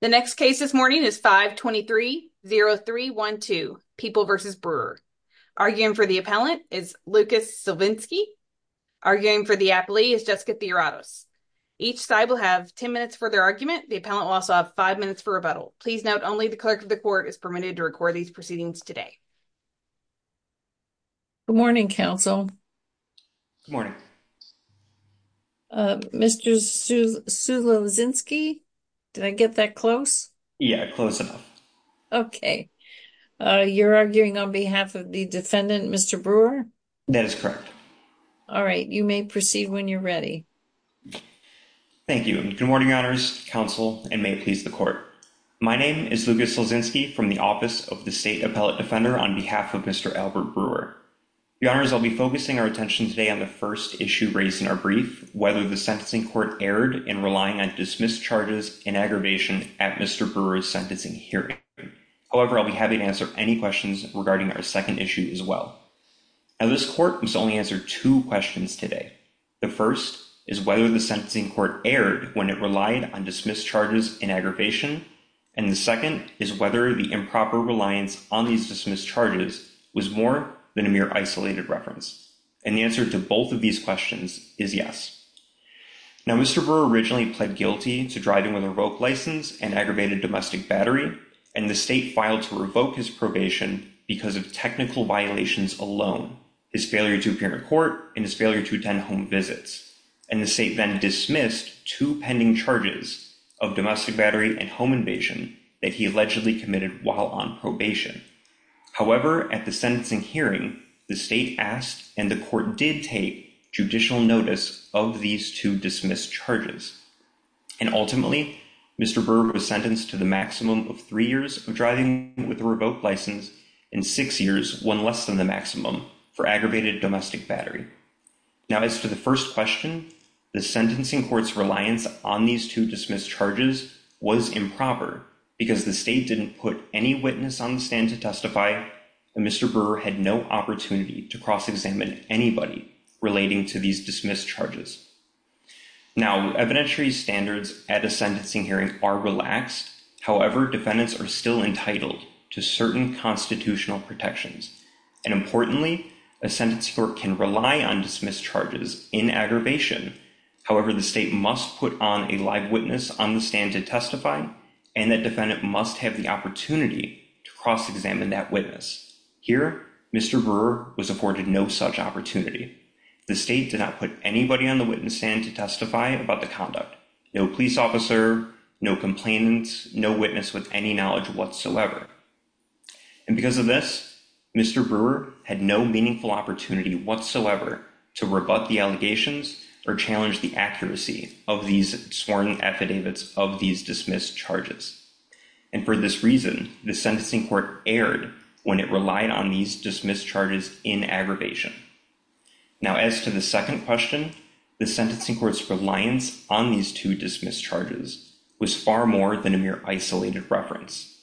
The next case this morning is 5-23-0312, People v. Brewer. Arguing for the appellant is Lucas Silvinsky. Arguing for the applee is Jessica Theoratos. Each side will have 10 minutes for their argument. The appellant will also have five minutes for rebuttal. Please note only the clerk of the court is permitted to record these proceedings today. Good morning, counsel. Good morning. Mr. Silvinsky, did I get that close? Yeah, close enough. You're arguing on behalf of the defendant, Mr. Brewer? That is correct. All right. You may proceed when you're ready. Thank you. Good morning, your honors, counsel, and may it please the court. My name is Lucas Silvinsky from the office of the state appellate defender on behalf of Mr. Albert Brewer. Your honors, I'll be focusing our attention today on the first issue raised in our brief, whether the sentencing court erred in relying on dismissed charges in aggravation at Mr. Brewer's sentencing hearing. However, I'll be happy to answer any questions regarding our second issue as well. Now, this court must only answer two questions today. The first is whether the sentencing court erred when it relied on dismissed charges in aggravation. And the second is whether the improper reliance on these dismissed charges was more than a mere isolated reference. And the answer to both of these questions is yes. Now, Mr. Brewer originally pled guilty to driving with a revoked license and aggravated domestic battery, and the state filed to revoke his probation because of technical violations alone, his failure to appear in court, and his failure to attend home visits. And the state then dismissed two pending charges of domestic battery and home invasion that he allegedly committed while on probation. However, at the sentencing hearing, the state asked and the court did take judicial notice of these two dismissed charges. And ultimately, Mr. Brewer was sentenced to the maximum of three years of driving with a revoked license and six years, one less than the maximum, for aggravated domestic battery. Now, as to the first question, the sentencing court's reliance on these two dismissed charges was improper because the state didn't put any witness on the stand to testify, and Mr. Brewer had no opportunity to cross-examine anybody relating to these dismissed charges. Now, evidentiary standards at a sentencing hearing are relaxed. However, defendants are still entitled to certain constitutional protections. And importantly, a sentencing court can rely on dismissed charges in aggravation. However, the state must put on a live witness on the stand to testify, and the defendant must have the opportunity to cross-examine that witness. Here, Mr. Brewer was afforded no such opportunity. The state did not put anybody on the witness stand to testify about the conduct. No police officer, no complainant, no witness with any knowledge whatsoever. And because of this, Mr. Brewer had no meaningful opportunity whatsoever to rebut the allegations or challenge the accuracy of these sworn affidavits of these dismissed charges. And for this reason, the sentencing court erred when it relied on these dismissed charges in aggravation. Now, as to the second question, the sentencing court's reliance on these two dismissed charges was far more than a mere isolated reference.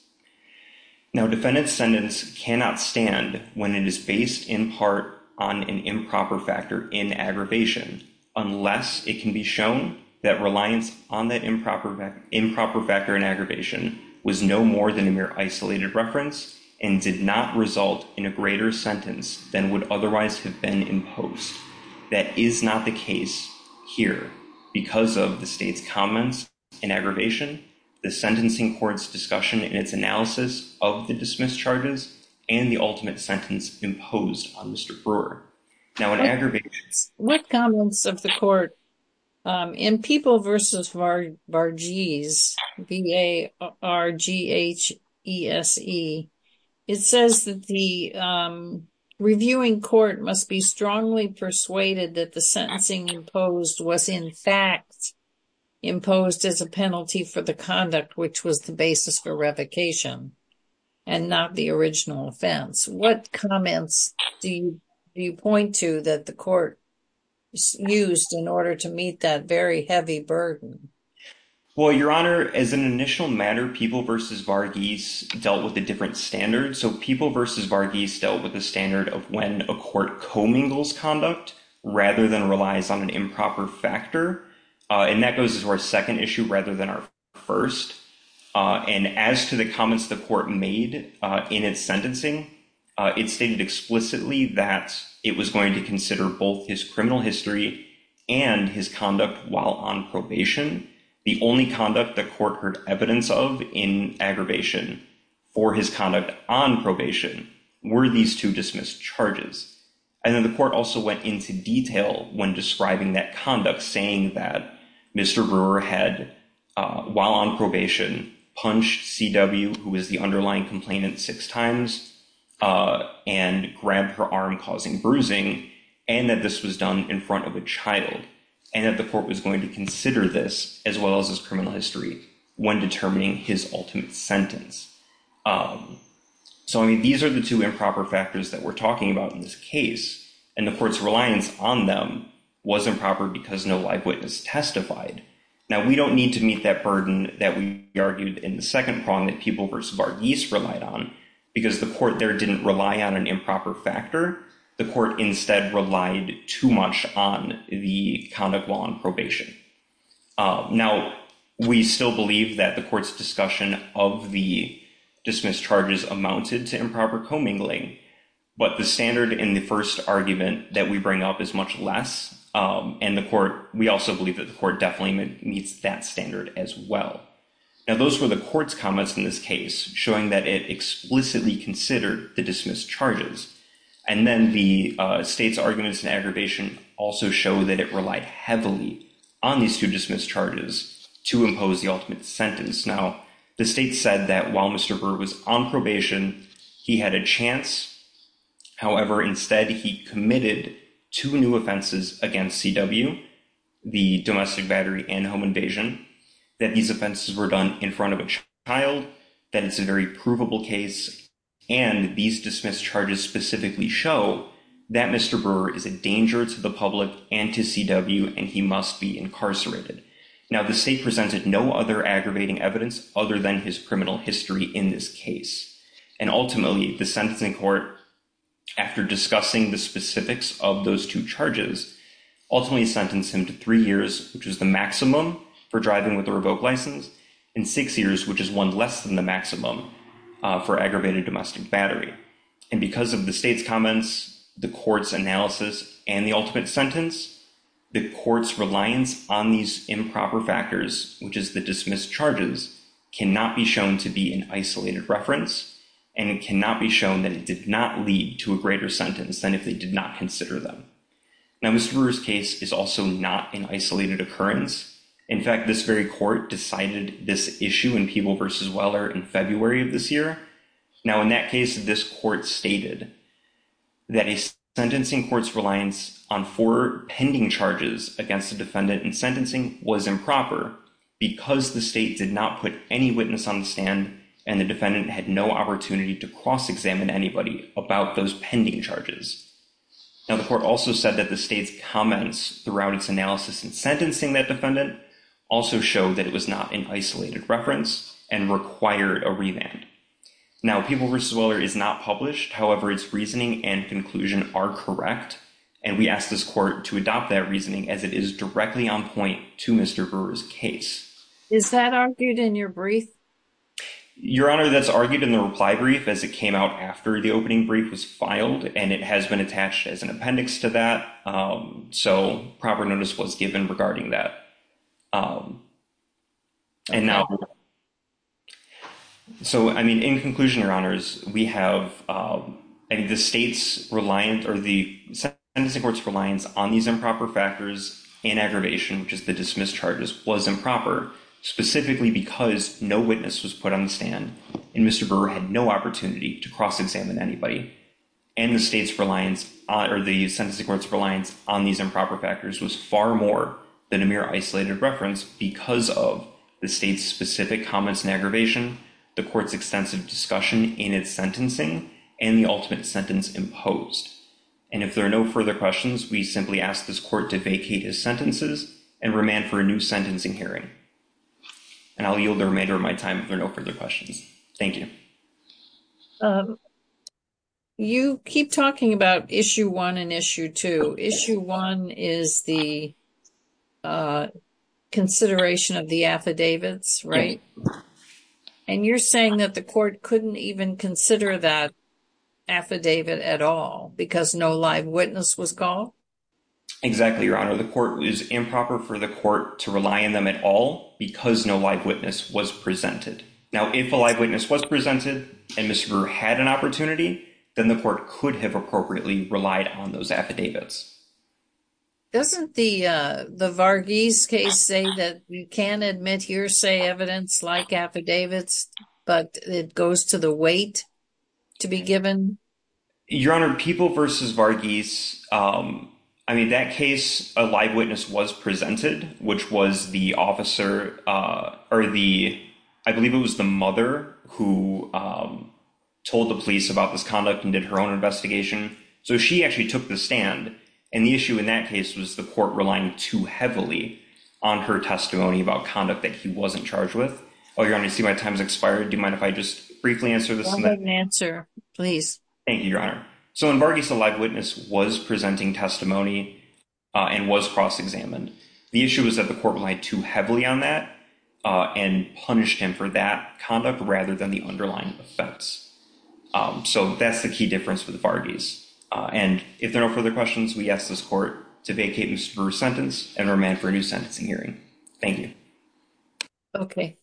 Now, defendant's sentence cannot stand when it is based in part on an improper factor in aggravation, unless it can be shown that reliance on that improper factor in aggravation was no more than a mere isolated reference and did not result in a greater sentence than would otherwise have been imposed. That is not the case here because of the state's comments in aggravation, the sentencing court's discussion in its analysis of the dismissed charges, and the ultimate sentence imposed on Mr. Brewer. Now, in aggravation. What comments of the court in People v. Varghese, V-A-R-G-H-E-S-E, it says that the reviewing court must be strongly persuaded that the sentencing imposed was in fact imposed as a penalty for the conduct, which was the basis for revocation and not the original offense. What comments do you point to that the court used in order to meet that very heavy burden? Well, Your Honor, as an initial matter, People v. Varghese dealt with a different standard. So People v. Varghese dealt with the standard of when a court commingles conduct rather than relies on an improper factor. And that goes to our second issue rather than our first. And as to the comments the court made in its sentencing, it stated explicitly that it was going to consider both his criminal history and his conduct while on probation. The only conduct the court heard evidence of in aggravation for his conduct on probation were these two dismissed charges. And then the court also went into detail when describing that conduct, saying that Mr. Brewer had, while on probation, punched C.W., who is the underlying complainant, six times and grabbed her arm, causing bruising, and that this was done in front of a child and that the court was going to consider this as well as his criminal history when determining his ultimate sentence. So, I mean, these are the two improper factors that we're talking about in this case, and the court's reliance on them was improper because no live witness testified. Now, we don't need to meet that burden that we argued in the second prong that People v. Varghese relied on, because the court there didn't rely on an improper factor. The court instead relied too much on the conduct while on probation. Now, we still believe that the court's discussion of the dismissed charges amounted to improper commingling, but the standard in the first argument that we bring up is much less, and the court, we also believe that the court definitely meets that standard as well. Now, those were the court's comments in this case, showing that it explicitly considered the dismissed charges, and then the state's arguments in aggravation also show that it relied heavily on these two dismissed charges to impose the ultimate sentence. Now, the state said that while Mr. Brewer was on probation, he had a chance. However, instead, he committed two new offenses against CW, the domestic battery and home invasion, that these offenses were done in front of a child, that it's a very provable case, and these dismissed charges specifically show that Mr. Brewer is a danger to the public and to CW, and he must be incarcerated. Now, the state presented no other aggravating evidence other than his criminal history in this case, and ultimately, the sentencing court, after discussing the specifics of those two charges, ultimately sentenced him to three years, which is the maximum for driving with a revoked license, and six years, which is one less than the maximum for aggravated domestic battery. And because of the state's comments, the court's analysis, and the ultimate sentence, the court's reliance on these improper factors, which is the dismissed charges, cannot be shown to be an isolated reference, and it cannot be shown that it did not lead to a greater sentence than if they did not consider them. Now, Mr. Brewer's case is also not an isolated occurrence. In fact, this very court decided this issue in Peeble v. Weller in February of this year. Now, in that case, this court stated that a sentencing court's reliance on four pending charges against the defendant in sentencing was improper because the state did not put any witness on the stand, and the defendant had no opportunity to cross-examine anybody about those pending charges. Now, the court also said that the state's comments throughout its analysis in sentencing that defendant also showed that it was not an isolated reference and required a revamp. Now, Peeble v. Weller is not published. However, its reasoning and conclusion are correct, and we ask this court to adopt that reasoning as it is directly on point to Mr. Brewer's case. Is that argued in your brief? Your Honor, that's argued in the reply brief as it came out after the opening brief was filed, and it has been attached as an appendix to that. So, proper notice was given regarding that. So, I mean, in conclusion, Your Honors, we have the state's sentencing court's reliance on these improper factors and aggravation, which is the dismissed charges, was improper, specifically because no witness was put on the stand, and Mr. Brewer had no opportunity to cross-examine anybody, and the sentencing court's reliance on these improper factors was far more than Amir Ahmed's sentencing court's reliance on these improper factors. And so, we are arguing that Mr. Brewer's case is not an isolated reference because of the state's specific comments and aggravation, the court's extensive discussion in its sentencing, and the ultimate sentence imposed. And if there are no further questions, we simply ask this court to vacate his sentences and remand for a new sentencing hearing. And I'll yield the remainder of my time if there are no further questions. Thank you. You keep talking about Issue 1 and Issue 2. Issue 1 is the consideration of the affidavits, right? And you're saying that the court couldn't even consider that affidavit at all because no live witness was called? Exactly, Your Honor. The court was improper for the court to rely on them at all because no live witness was presented. Now, if a live witness was presented and Mr. Brewer had an opportunity, then the court could have appropriately relied on those affidavits. Doesn't the Varghese case say that you can't admit hearsay evidence like affidavits, but it goes to the weight to be given? Your Honor, People v. Varghese, I mean, that case, a live witness was presented, which was the officer, or the, I believe it was the mother, who told the police about this conduct and did her own investigation. So she actually took the stand. And the issue in that case was the court relying too heavily on her testimony about conduct that he wasn't charged with. Well, Your Honor, I see my time has expired. Do you mind if I just briefly answer this? Yes, go ahead and answer, please. Thank you, Your Honor. So in Varghese, a live witness was presenting testimony and was cross-examined. The issue was that the court relied too heavily on that and punished him for that conduct rather than the underlying effects. So that's the key difference with Varghese. And if there are no further questions, we ask this court to vacate Mr. Brewer's sentence and remand for a new sentencing hearing. Thank you. Okay.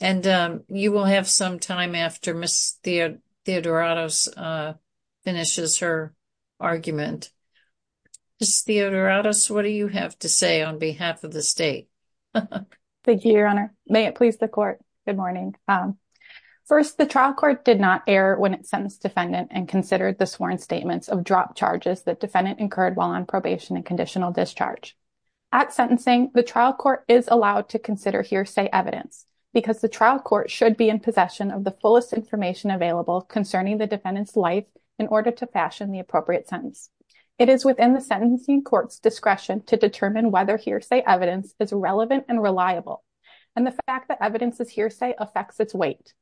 And you will have some time after Ms. Theodoratos finishes her argument. Ms. Theodoratos, what do you have to say on behalf of the state? Thank you, Your Honor. May it please the court. Good morning. First, the trial court did not err when it sentenced defendant and considered the sworn statements of drop charges that defendant incurred while on probation and conditional discharge. At sentencing, the trial court is allowed to consider hearsay evidence because the trial court should be in possession of the fullest information available concerning the defendant's life in order to fashion the appropriate sentence. It is within the sentencing court's discretion to determine whether hearsay evidence is relevant and reliable. And the fact that evidence is hearsay affects its weight.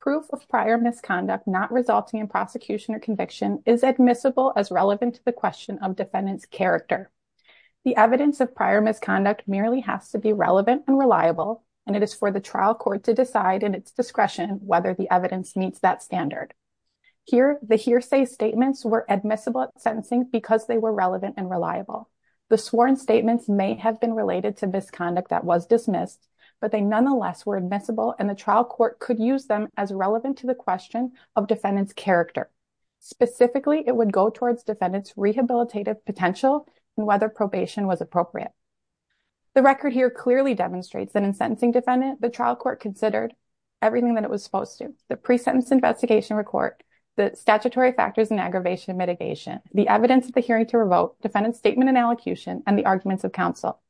Proof of prior misconduct not resulting in prosecution or conviction is admissible as relevant to the question of defendant's character. The evidence of prior misconduct merely has to be relevant and reliable, and it is for the trial court to decide in its discretion whether the evidence meets that standard. Here, the hearsay statements were admissible at sentencing because they were relevant and The sworn statements may have been related to misconduct that was dismissed, but they nonetheless were admissible and the trial court could use them as relevant to the question of defendant's character. Specifically, it would go towards defendant's rehabilitative potential and whether probation was appropriate. The record here clearly demonstrates that in sentencing defendant, the trial court considered everything that it was supposed to. The pre-sentence investigation report, the statutory factors and aggravation mitigation, the evidence of the hearing to revoke, defendant's statement and allocution, and the arguments of counsel.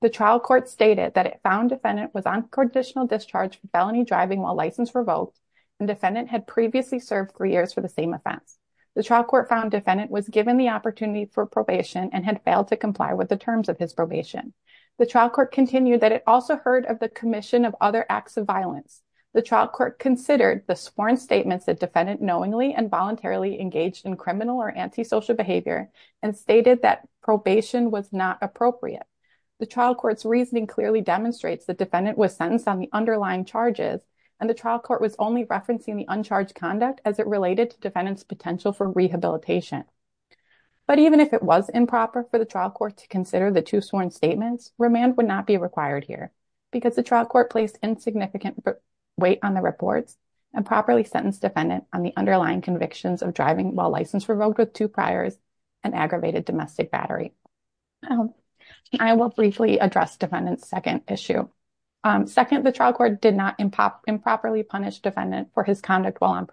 The trial court stated that it found defendant was on conditional discharge from felony driving while license revoked and defendant had previously served three years for the offense. The trial court found defendant was given the opportunity for probation and had failed to comply with the terms of his probation. The trial court continued that it also heard of the commission of other acts of violence. The trial court considered the sworn statements that defendant knowingly and voluntarily engaged in criminal or antisocial behavior and stated that probation was not appropriate. The trial court's reasoning clearly demonstrates the defendant was sentenced on the underlying charges and the trial court was only referencing the uncharged conduct as it related to defendant's potential for rehabilitation. But even if it was improper for the trial court to consider the two sworn statements, remand would not be required here because the trial court placed insignificant weight on the reports and properly sentenced defendant on the underlying convictions of driving while license revoked with two priors and aggravated domestic battery. I will briefly address defendant's second issue. Second, the trial court did not improperly punish defendant for his conduct while on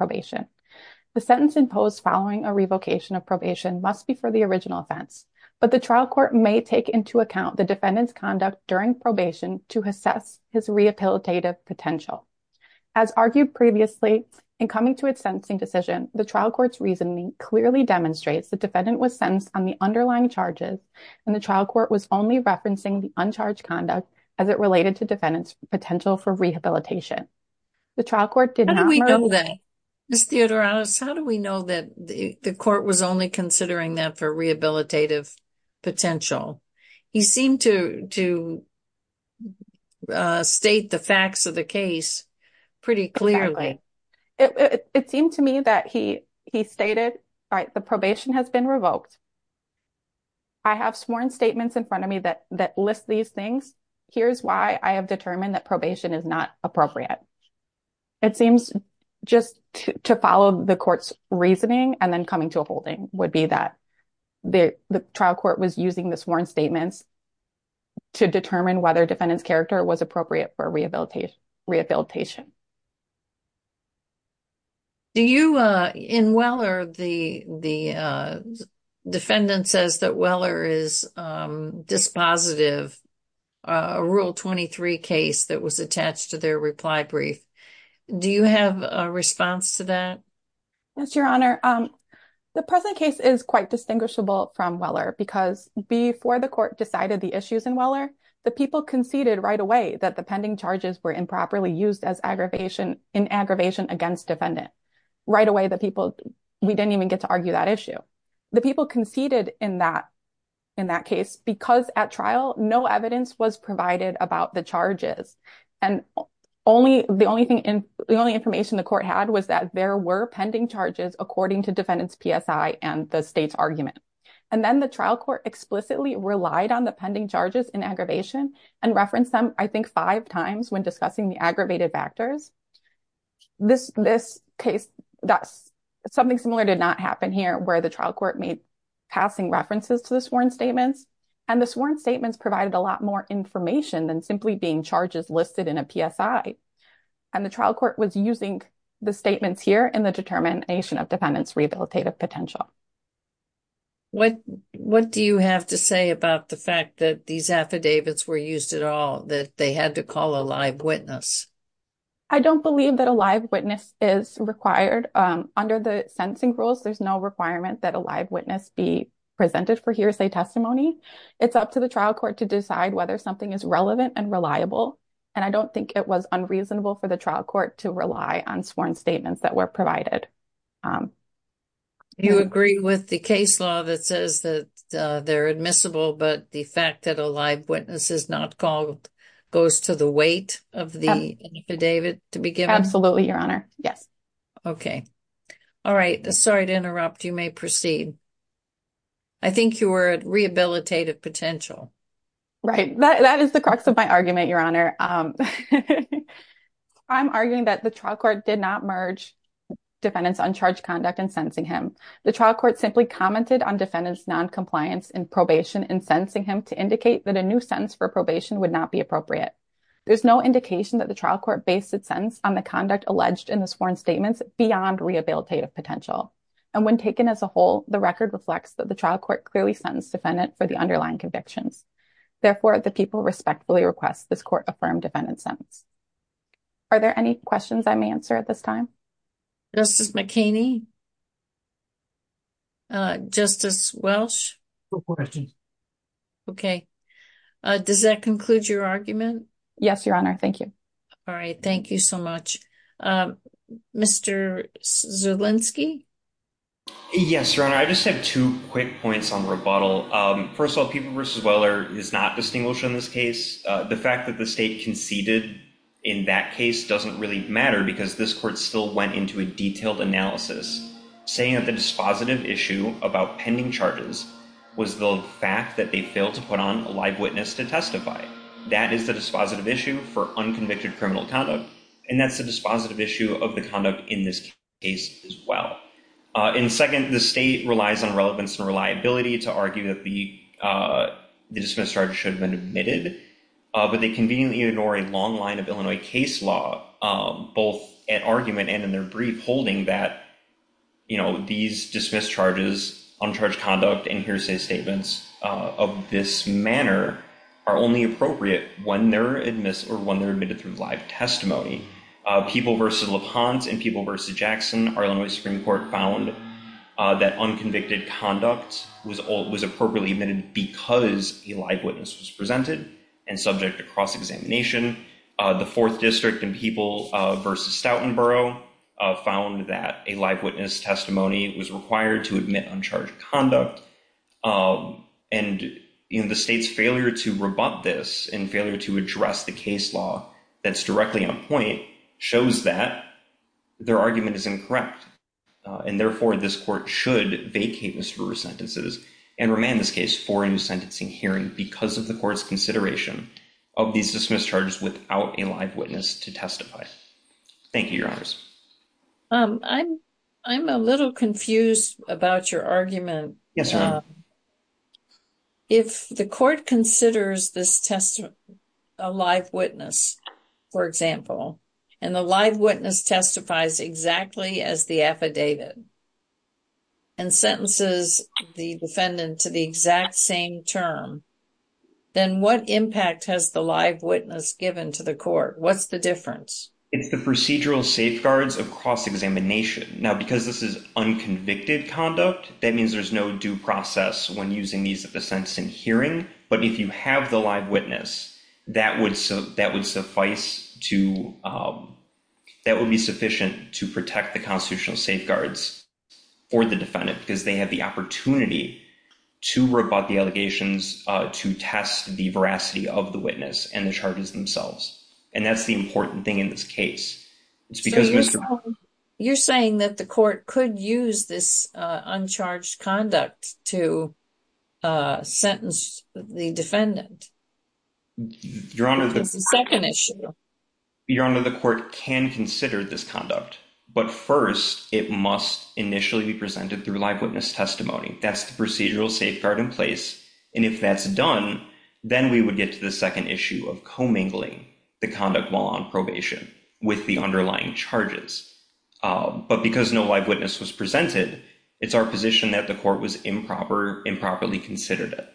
The sentence imposed following a revocation of probation must be for the original offense, but the trial court may take into account the defendant's conduct during probation to assess his rehabilitative potential. As argued previously, in coming to its sentencing decision, the trial court's reasoning clearly demonstrates the defendant was sentenced on the underlying charges and the trial court was only referencing the uncharged conduct as it related to defendant's potential for rehabilitation. The trial court did not... How do we know that? Ms. Theodorakis, how do we know that the court was only considering that for rehabilitative potential? He seemed to state the facts of the case pretty clearly. It seemed to me that he stated, all right, the probation has been revoked. I have sworn statements in front of me that list these things. Here's why I have determined that probation is not appropriate. It seems just to follow the court's reasoning and then coming to a holding would be that the trial court was using the sworn statements to determine whether defendant's character was appropriate for rehabilitation. Do you, in Weller, the defendant says that Weller is dispositive, a Rule 23 case that was attached to their reply brief. Do you have a response to that? Yes, Your Honor. The present case is quite distinguishable from Weller because before the court decided the issues in Weller, the people conceded right away that the pending charges were improperly used in aggravation against defendant. Right away, the people, we didn't even get to argue that issue. The people conceded in that case because at trial, no evidence was provided about the And the only information the court had was that there were pending charges according to defendant's PSI and the state's argument. And then the trial court explicitly relied on the pending charges in aggravation and referenced them, I think, five times when discussing the aggravated factors. This case, something similar did not happen here where the trial court made passing references to the sworn statements. And the sworn statements provided a lot more information than simply being charges listed in a PSI. And the trial court was using the statements here in the determination of defendant's rehabilitative potential. What do you have to say about the fact that these affidavits were used at all, that they had to call a live witness? I don't believe that a live witness is required. Under the sentencing rules, there's no requirement that a live witness be presented for hearsay testimony. It's up to the trial court to decide whether something is relevant and reliable. And I don't think it was unreasonable for the trial court to rely on sworn statements that were provided. Do you agree with the case law that says that they're admissible, but the fact that a live witness is not called goes to the weight of the affidavit to be given? Absolutely, Your Honor. Yes. Okay. All right. Sorry to interrupt. You may proceed. I think you were at rehabilitative potential. Right. That is the crux of my argument, Your Honor. I'm arguing that the trial court did not merge defendant's uncharged conduct in sentencing him. The trial court simply commented on defendant's noncompliance in probation in sentencing him to indicate that a new sentence for probation would not be appropriate. There's no indication that the trial court based its sentence on the conduct alleged in the sworn statements beyond rehabilitative potential. And when taken as a whole, the record reflects that the trial court clearly sentenced defendant for the underlying convictions. Therefore, the people respectfully request this court affirm defendant's sentence. Are there any questions I may answer at this time? Justice McKinney? Justice Welsh? No questions. Okay. Does that conclude your argument? Yes, Your Honor. Thank you. All right. Thank you so much. Mr. Zulinski? Yes, Your Honor. I just have two quick points on rebuttal. First of all, people versus Weller is not distinguished in this case. The fact that the state conceded in that case doesn't really matter because this court still went into a detailed analysis saying that the dispositive issue about pending charges was the fact that they failed to put on a live witness to testify. That is the dispositive issue for unconvicted criminal conduct. And that's the dispositive issue of the conduct in this case as well. And second, the state relies on relevance and reliability to argue that the dismissed charges should have been admitted, but they conveniently ignore a long line of Illinois case law, both at argument and in their brief holding that, you know, these dismissed charges, uncharged conduct, and hearsay statements of this manner are only appropriate when they're admitted through live testimony. People versus LaPont and people versus Jackson, our Illinois Supreme Court found that unconvicted conduct was appropriately admitted because a live witness was presented and subject to cross-examination. The Fourth District and people versus Stoughton Borough found that a live witness testimony was required to admit uncharged conduct. And, you know, the state's failure to rebut this and failure to address the case law that's directly on point shows that their argument is incorrect. And therefore, this court should vacate Mr. Brewer's sentences and remand this case for a new sentencing hearing because of the court's consideration of these dismissed charges without a live witness to testify. Thank you, Your Honors. I'm a little confused about your argument. If the court considers this testimony, a live witness, for example, and the live witness testifies exactly as the affidavit and sentences the defendant to the exact same term, then what impact has the live witness given to the court? What's the difference? It's the procedural safeguards of cross-examination. Now, because this is unconvicted conduct, that means there's no due process when using these at the sentencing hearing. But if you have the live witness, that would suffice to that would be sufficient to protect the constitutional safeguards for the defendant because they have the opportunity to rebut the allegations to test the veracity of the witness and the charges themselves. And that's the important thing in this case. It's because, Mr. You're saying that the court could use this uncharged conduct to sentence the defendant? Your Honor, the second issue, Your Honor, the court can consider this conduct. But first, it must initially be presented through live witness testimony. That's the procedural safeguard in place. And if that's done, then we would get to the second issue of commingling the conduct while on probation with the underlying charges. But because no live witness was presented, it's our position that the court was improper, improperly considered it.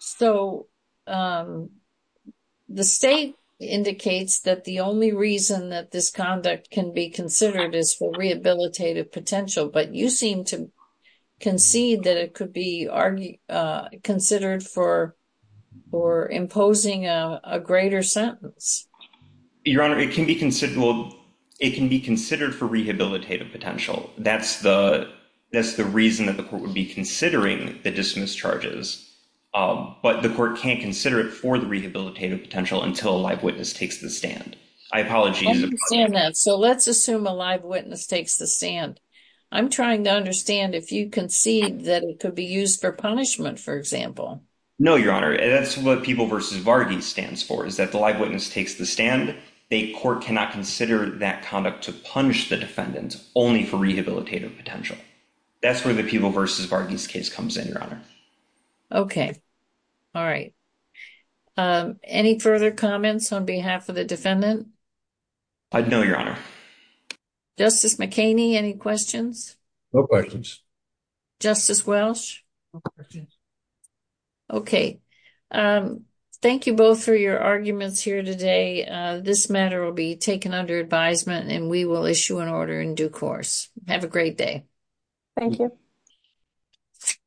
So the state indicates that the only reason that this conduct can be considered is for rehabilitative potential. But you seem to concede that it could be considered for imposing a greater sentence. Your Honor, it can be considered for rehabilitative potential. That's the reason that the court would be considering the dismissed charges. But the court can't consider it for the rehabilitative potential until a live witness takes the stand. I apologize. I understand that. So let's assume a live witness takes the stand. I'm trying to understand if you concede that it could be used for punishment, for example. No, Your Honor. That's what Peeble v. Varghese stands for, is that the live witness takes the stand. The court cannot consider that conduct to punish the defendant only for rehabilitative potential. That's where the Peeble v. Varghese case comes in, Your Honor. Okay. All right. Any further comments on behalf of the defendant? No, Your Honor. Justice McKinney, any questions? Justice Welsh? No questions. Okay. Thank you both for your arguments here today. This matter will be taken under advisement, and we will issue an order in due course. Have a great day. Thank you.